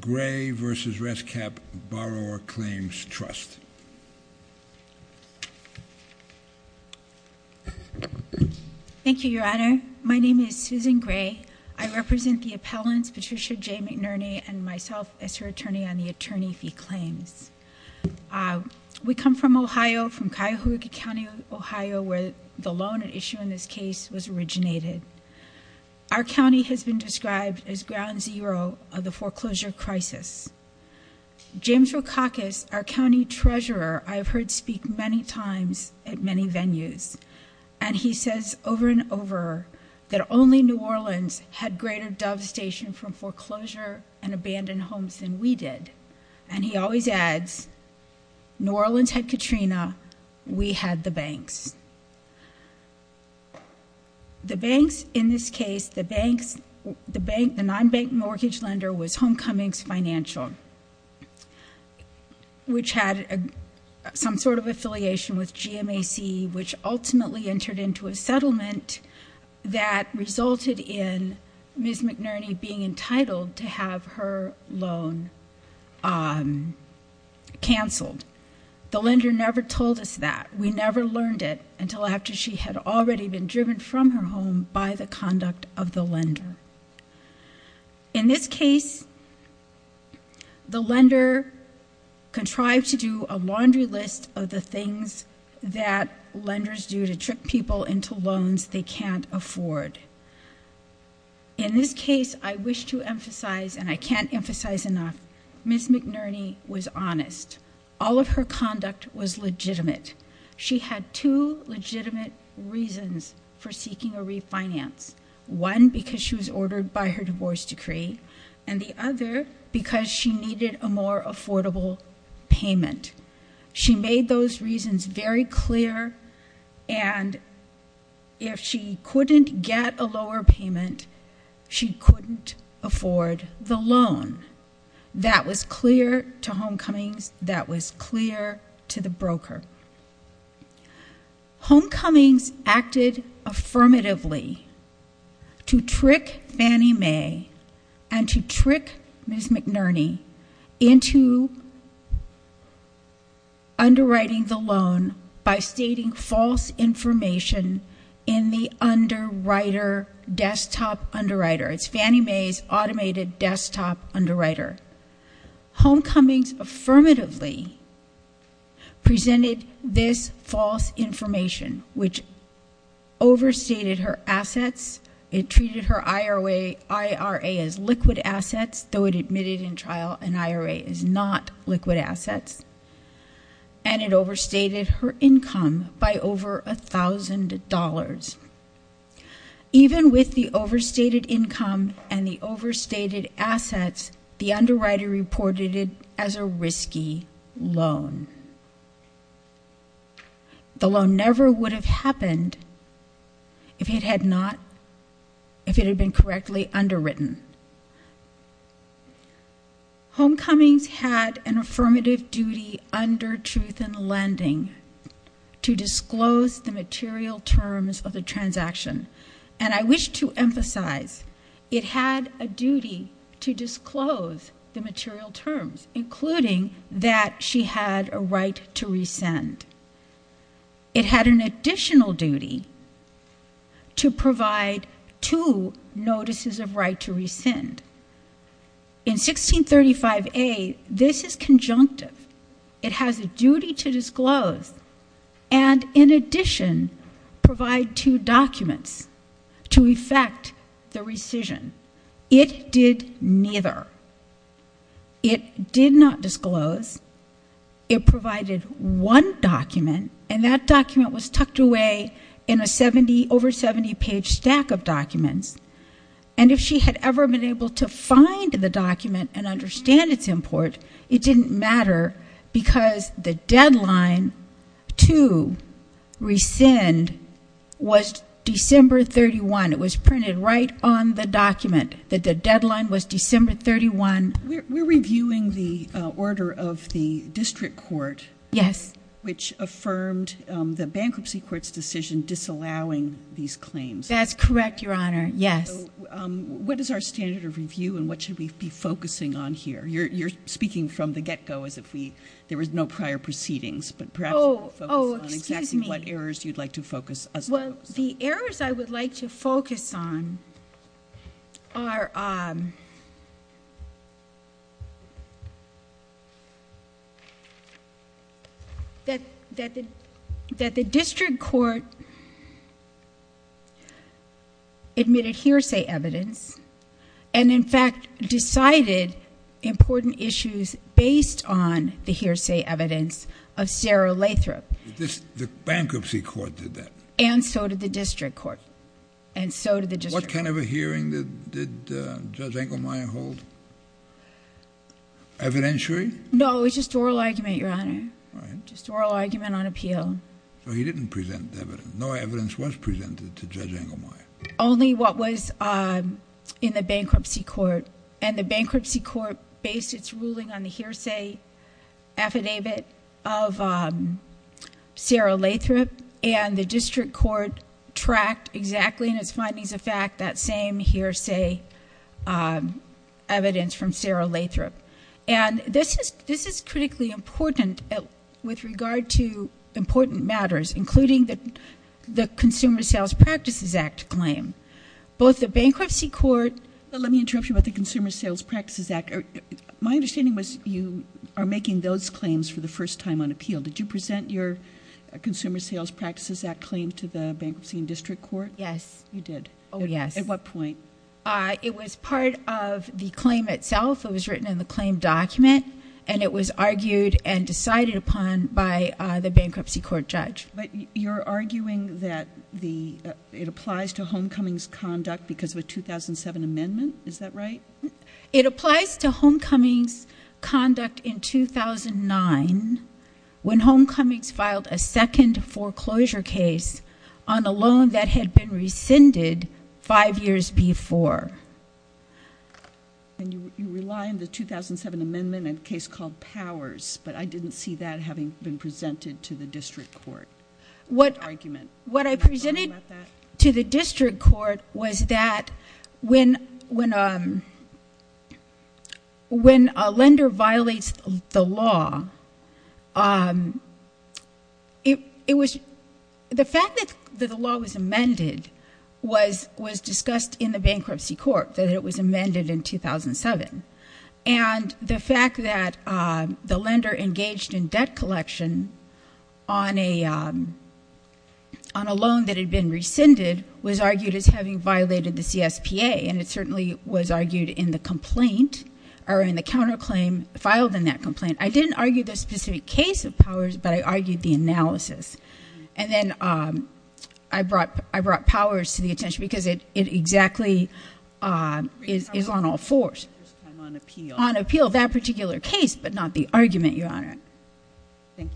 Gray v. ResCap Borrower Claims Trust. Thank you, Your Honor. My name is Susan Gray. I represent the appellants, Patricia J. McNerney, and myself as her attorney on the attorney fee claims. We come from Ohio, from Cuyahoga County, Ohio, where the loan at issue in this case was originated. Our county has been described as ground zero of the foreclosure crisis. James Rokakis, our county treasurer, I've heard speak many times at many venues. And he says over and over that only New Orleans had greater devastation from foreclosure and abandoned homes than we did. And he always adds, New Orleans had Katrina, we had the banks. The banks, in this case, the non-bank mortgage lender was Homecomings Financial, which had some sort of affiliation with GMAC, which ultimately entered into a settlement that resulted in Ms. McNerney being entitled to have her loan canceled. The lender never told us that. We never learned it until after she had already been driven from her home by the conduct of the lender. In this case, the lender contrived to do a laundry list of the things that lenders do to trick people into loans they can't afford. In this case, I wish to emphasize, and I can't emphasize enough, Ms. McNerney was honest. All of her conduct was legitimate. She had two legitimate reasons for seeking a refinance. One, because she was ordered by her divorce decree, and the other, because she needed a more affordable payment. She made those reasons very clear, and if she couldn't get a lower payment, she couldn't afford the loan. That was clear to Homecomings. That was clear to the broker. Homecomings acted affirmatively to trick Fannie Mae and to trick Ms. McNerney into underwriting the loan by stating false information in the underwriter, desktop underwriter. It's Fannie Mae's automated desktop underwriter. Homecomings affirmatively presented this false information, which overstated her assets. It treated her IRA as liquid assets, though it admitted in trial an IRA is not liquid assets, and it overstated her income by over $1,000. Even with the overstated income and the overstated assets, the underwriter reported it as a risky loan. The loan never would have happened if it had been correctly underwritten. Homecomings had an affirmative duty under Truth in Lending to disclose the material terms of the transaction, and I wish to emphasize it had a duty to disclose the material terms, including that she had a right to rescind. It had an additional duty to provide two notices of right to rescind. In 1635A, this is conjunctive. It has a duty to disclose and, in addition, provide two documents to effect the rescission. It did neither. It did not disclose. It provided one document, and that document was tucked away in an over-70-page stack of documents, and if she had ever been able to find the document and understand its import, it didn't matter because the deadline to rescind was December 31. It was printed right on the document that the deadline was December 31. We're reviewing the order of the district court. Yes. Which affirmed the bankruptcy court's decision disallowing these claims. That's correct, Your Honor. Yes. What is our standard of review, and what should we be focusing on here? You're speaking from the get-go as if there were no prior proceedings, but perhaps we'll focus on exactly what errors you'd like to focus us on. Well, the errors I would like to focus on are that the district court admitted hearsay evidence and, in fact, decided important issues based on the hearsay evidence of Sarah Lathrop. The bankruptcy court did that? And so did the district court. And so did the district court. What kind of a hearing did Judge Engelmeyer hold? Evidentiary? No, it was just oral argument, Your Honor. All right. Just oral argument on appeal. So he didn't present evidence. No evidence was presented to Judge Engelmeyer. Only what was in the bankruptcy court. And the bankruptcy court based its ruling on the hearsay affidavit of Sarah Lathrop, and the district court tracked exactly in its findings of fact that same hearsay evidence from Sarah Lathrop. And this is critically important with regard to important matters, including the Consumer Sales Practices Act claim. Both the bankruptcy court — Let me interrupt you about the Consumer Sales Practices Act. My understanding was you are making those claims for the first time on appeal. Did you present your Consumer Sales Practices Act claim to the bankruptcy and district court? Yes. You did. Oh, yes. At what point? It was part of the claim itself. It was written in the claim document, and it was argued and decided upon by the bankruptcy court judge. But you're arguing that it applies to homecomings conduct because of a 2007 amendment. Is that right? It applies to homecomings conduct in 2009 when homecomings filed a second foreclosure case on a loan that had been rescinded five years before. And you rely on the 2007 amendment in a case called Powers, but I didn't see that having been presented to the district court. What I presented to the district court was that when a lender violates the law, the fact that the law was amended was discussed in the bankruptcy court, that it was amended in 2007. And the fact that the lender engaged in debt collection on a loan that had been rescinded was argued as having violated the CSPA, and it certainly was argued in the complaint or in the counterclaim filed in that complaint. I didn't argue the specific case of Powers, but I argued the analysis. And then I brought Powers to the attention because it exactly is on all fours. On appeal. On appeal, that particular case, but not the argument, Your Honor. Thank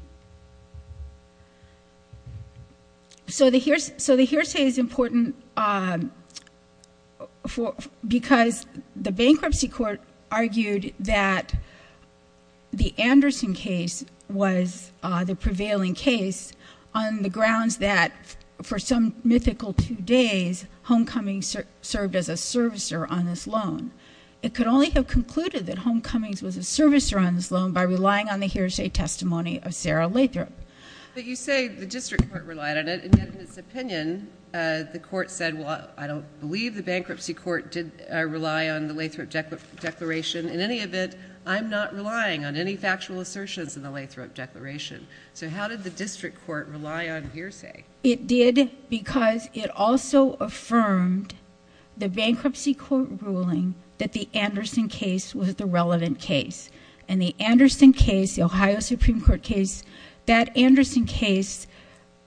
you. So the hearsay is important because the bankruptcy court argued that the Anderson case was the prevailing case on the grounds that, for some mythical two days, homecomings served as a servicer on this loan. It could only have concluded that homecomings was a servicer on this loan by relying on the hearsay testimony of Sarah Lathrop. But you say the district court relied on it, and yet in its opinion, the court said, well, I don't believe the bankruptcy court did rely on the Lathrop declaration. In any event, I'm not relying on any factual assertions in the Lathrop declaration. So how did the district court rely on hearsay? It did because it also affirmed the bankruptcy court ruling that the Anderson case was the relevant case. And the Anderson case, the Ohio Supreme Court case, that Anderson case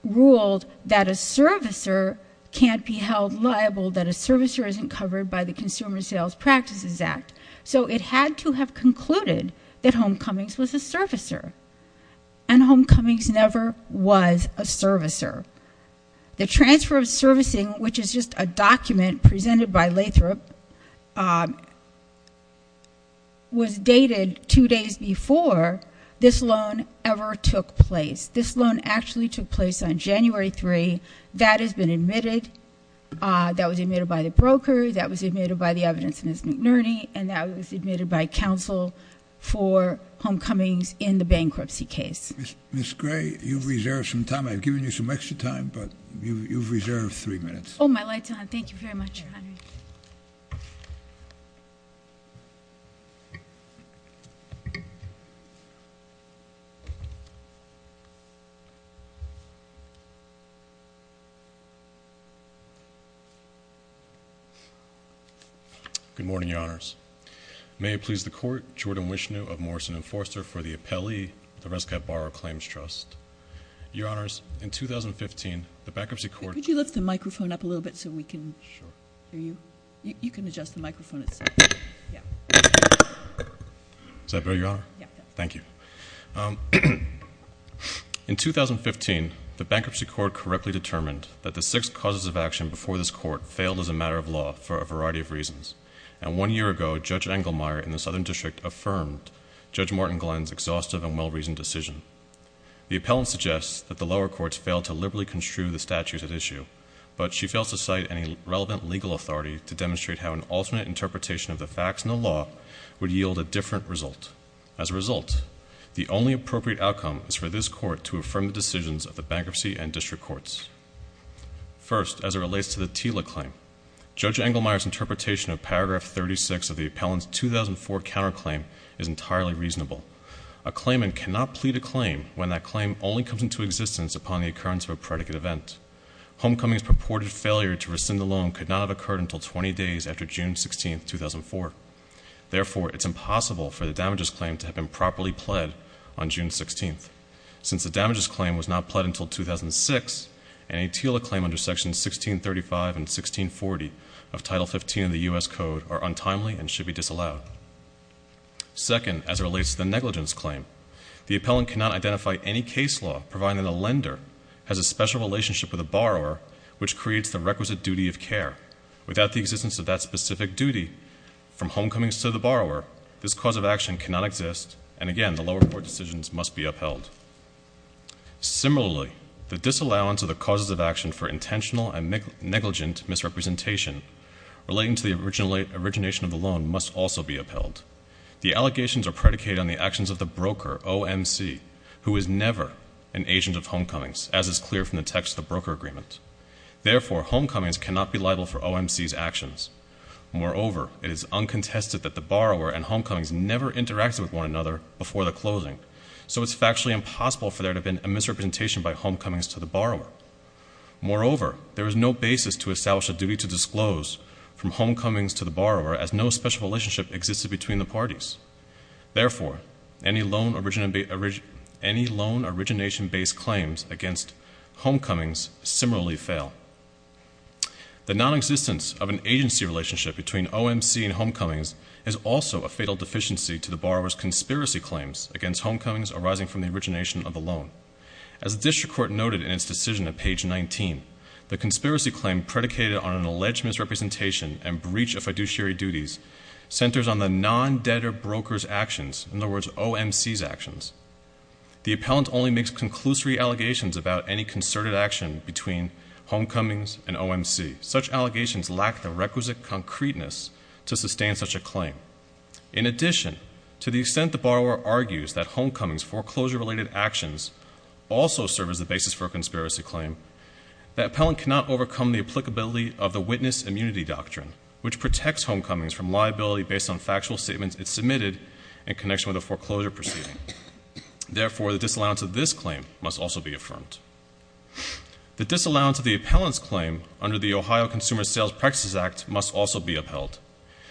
ruled that a servicer can't be held liable, that a servicer isn't covered by the Consumer Sales Practices Act. So it had to have concluded that homecomings was a servicer. And homecomings never was a servicer. The transfer of servicing, which is just a document presented by Lathrop, was dated two days before this loan ever took place. This loan actually took place on January 3. That has been admitted. That was admitted by the broker. That was admitted by the evidence, Ms. McNerney. And that was admitted by counsel for homecomings in the bankruptcy case. Ms. Gray, you've reserved some time. I've given you some extra time, but you've reserved three minutes. Oh, my light's on. Thank you very much, Your Honor. Good morning, Your Honors. May it please the Court, Jordan Wishnu of Morrison & Forster for the appellee of the Rescat Barrow Claims Trust. Your Honors, in 2015, the bankruptcy court- Could you lift the microphone up a little bit so we can hear you? You can adjust the microphone itself. Yeah. Is that better, Your Honor? Yeah. Thank you. In 2015, the bankruptcy court correctly determined that the six causes of action before this court failed as a matter of law for a variety of reasons. And one year ago, Judge Engelmeyer in the Southern District affirmed Judge Martin Glenn's exhaustive and well-reasoned decision. The appellant suggests that the lower courts failed to liberally construe the statutes at issue, but she fails to cite any relevant legal authority to demonstrate how an alternate interpretation of the facts in the law would yield a different result. As a result, the only appropriate outcome is for this court to affirm the decisions of the bankruptcy and district courts. First, as it relates to the TILA claim, Judge Engelmeyer's interpretation of paragraph 36 of the appellant's 2004 counterclaim is entirely reasonable. A claimant cannot plead a claim when that claim only comes into existence upon the occurrence of a predicate event. Homecoming's purported failure to rescind the loan could not have occurred until 20 days after June 16, 2004. Therefore, it's impossible for the damages claim to have been properly pled on June 16. Since the damages claim was not pled until 2006, any TILA claim under sections 1635 and 1640 of Title XV of the U.S. Code are untimely and should be disallowed. Second, as it relates to the negligence claim, the appellant cannot identify any case law providing the lender has a special relationship with the borrower, which creates the requisite duty of care. Without the existence of that specific duty, from homecomings to the borrower, this cause of action cannot exist, and again, the lower court decisions must be upheld. Similarly, the disallowance of the causes of action for intentional and negligent misrepresentation relating to the origination of the loan must also be upheld. The allegations are predicated on the actions of the broker, OMC, who is never an agent of homecomings, as is clear from the text of the broker agreement. Therefore, homecomings cannot be liable for OMC's actions. Moreover, it is uncontested that the borrower and homecomings never interacted with one another before the closing, so it's factually impossible for there to have been a misrepresentation by homecomings to the borrower. Moreover, there is no basis to establish a duty to disclose from homecomings to the borrower, as no special relationship existed between the parties. Therefore, any loan origination-based claims against homecomings similarly fail. The nonexistence of an agency relationship between OMC and homecomings is also a fatal deficiency to the borrower's conspiracy claims against homecomings arising from the origination of the loan. As the district court noted in its decision at page 19, the conspiracy claim predicated on an alleged misrepresentation and breach of fiduciary duties centers on the non-debtor broker's actions, in other words, OMC's actions. The appellant only makes conclusory allegations about any concerted action between homecomings and OMC. Such allegations lack the requisite concreteness to sustain such a claim. In addition, to the extent the borrower argues that homecomings' foreclosure-related actions also serve as the basis for a conspiracy claim, the appellant cannot overcome the applicability of the witness immunity doctrine, which protects homecomings from liability based on factual statements it submitted in connection with a foreclosure proceeding. Therefore, the disallowance of this claim must also be affirmed. The disallowance of the appellant's claim under the Ohio Consumer Sales Practices Act must also be upheld.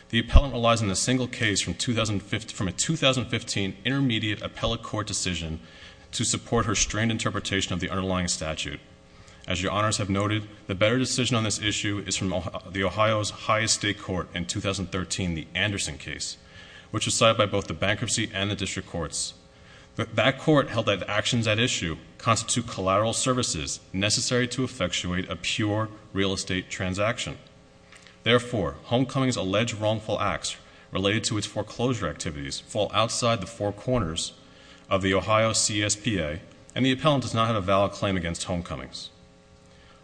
The appellant relies on a single case from a 2015 intermediate appellate court decision to support her strained interpretation of the underlying statute. As your honors have noted, the better decision on this issue is from the Ohio's high estate court in 2013, the Anderson case, which was cited by both the bankruptcy and the district courts. That court held that the actions at issue constitute collateral services necessary to effectuate a pure real estate transaction. Therefore, homecomings' alleged wrongful acts related to its foreclosure activities fall outside the four corners of the Ohio CSPA, and the appellant does not have a valid claim against homecomings.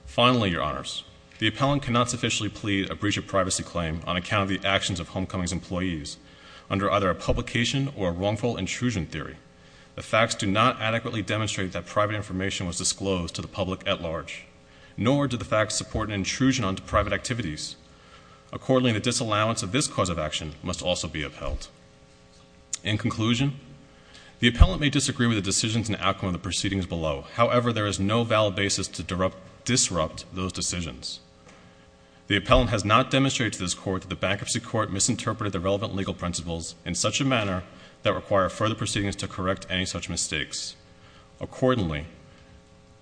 Finally, your honors, the appellant cannot sufficiently plead a breach of privacy claim on account of the actions of homecomings' employees under either a publication or a wrongful intrusion theory. The facts do not adequately demonstrate that private information was disclosed to the public at large, nor do the facts support an intrusion onto private activities. Accordingly, the disallowance of this cause of action must also be upheld. In conclusion, the appellant may disagree with the decisions and outcome of the proceedings below. However, there is no valid basis to disrupt those decisions. The appellant has not demonstrated to this court that the bankruptcy court misinterpreted the relevant legal principles in such a manner that require further proceedings to correct any such mistakes. Accordingly,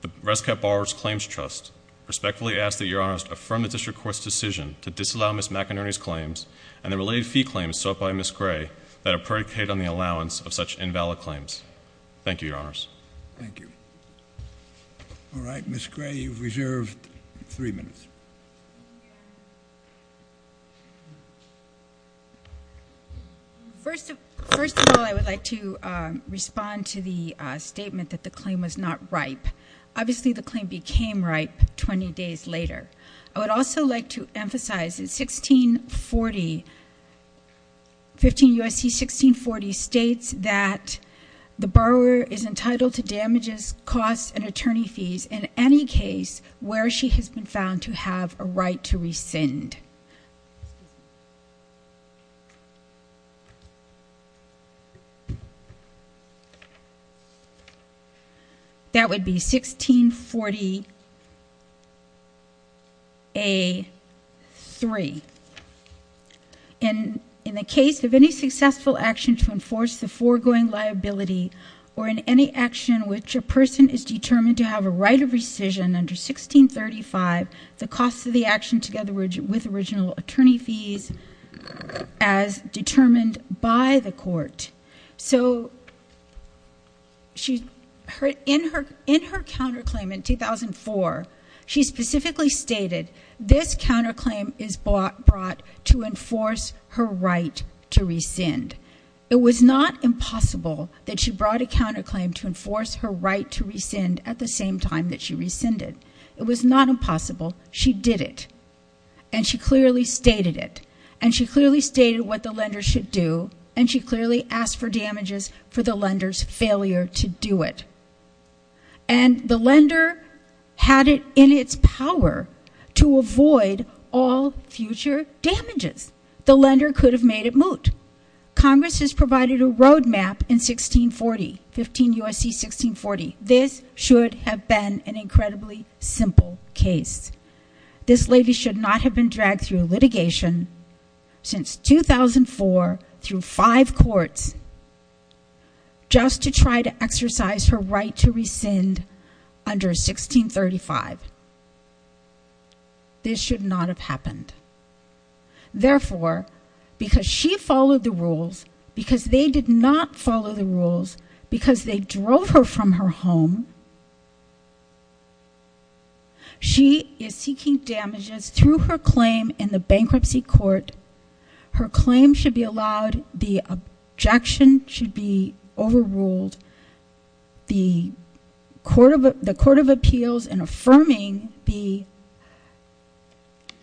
the Rescat Borrowers' Claims Trust respectfully asks that your honors affirm the district court's decision to disallow Ms. McInerny's claims and the related fee claims sought by Ms. Gray that are predicated on the allowance of such invalid claims. Thank you, your honors. Thank you. All right, Ms. Gray, you have reserved three minutes. First of all, I would like to respond to the statement that the claim was not ripe. Obviously, the claim became ripe 20 days later. I would also like to emphasize that 1640, 15 U.S.C. 1640, states that the borrower is entitled to damages, costs, and attorney fees in any case where she has been found to have a right to rescind. That would be 1640 A. 3. In the case of any successful action to enforce the foregoing liability or in any action in which a person is determined to have a right of rescission under 1635, the cost of the action together with original attorney fees as determined by the court. So in her counterclaim in 2004, she specifically stated this counterclaim is brought to enforce her right to rescind. It was not impossible that she brought a counterclaim to enforce her right to rescind at the same time that she rescinded. It was not impossible. She did it. And she clearly stated it. And she clearly stated what the lender should do. And she clearly asked for damages for the lender's failure to do it. And the lender had it in its power to avoid all future damages. The lender could have made it moot. Congress has provided a roadmap in 1640, 15 U.S.C. 1640. This should have been an incredibly simple case. This lady should not have been dragged through litigation since 2004 through five courts just to try to exercise her right to rescind under 1635. This should not have happened. Therefore, because she followed the rules, because they did not follow the rules, because they drove her from her home, she is seeking damages through her claim in the bankruptcy court. Her claim should be allowed. The objection should be overruled. The court of appeals in affirming the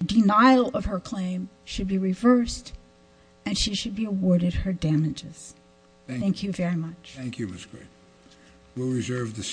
denial of her claim should be reversed. And she should be awarded her damages. Thank you very much. Thank you, Ms. Gray. We'll reserve the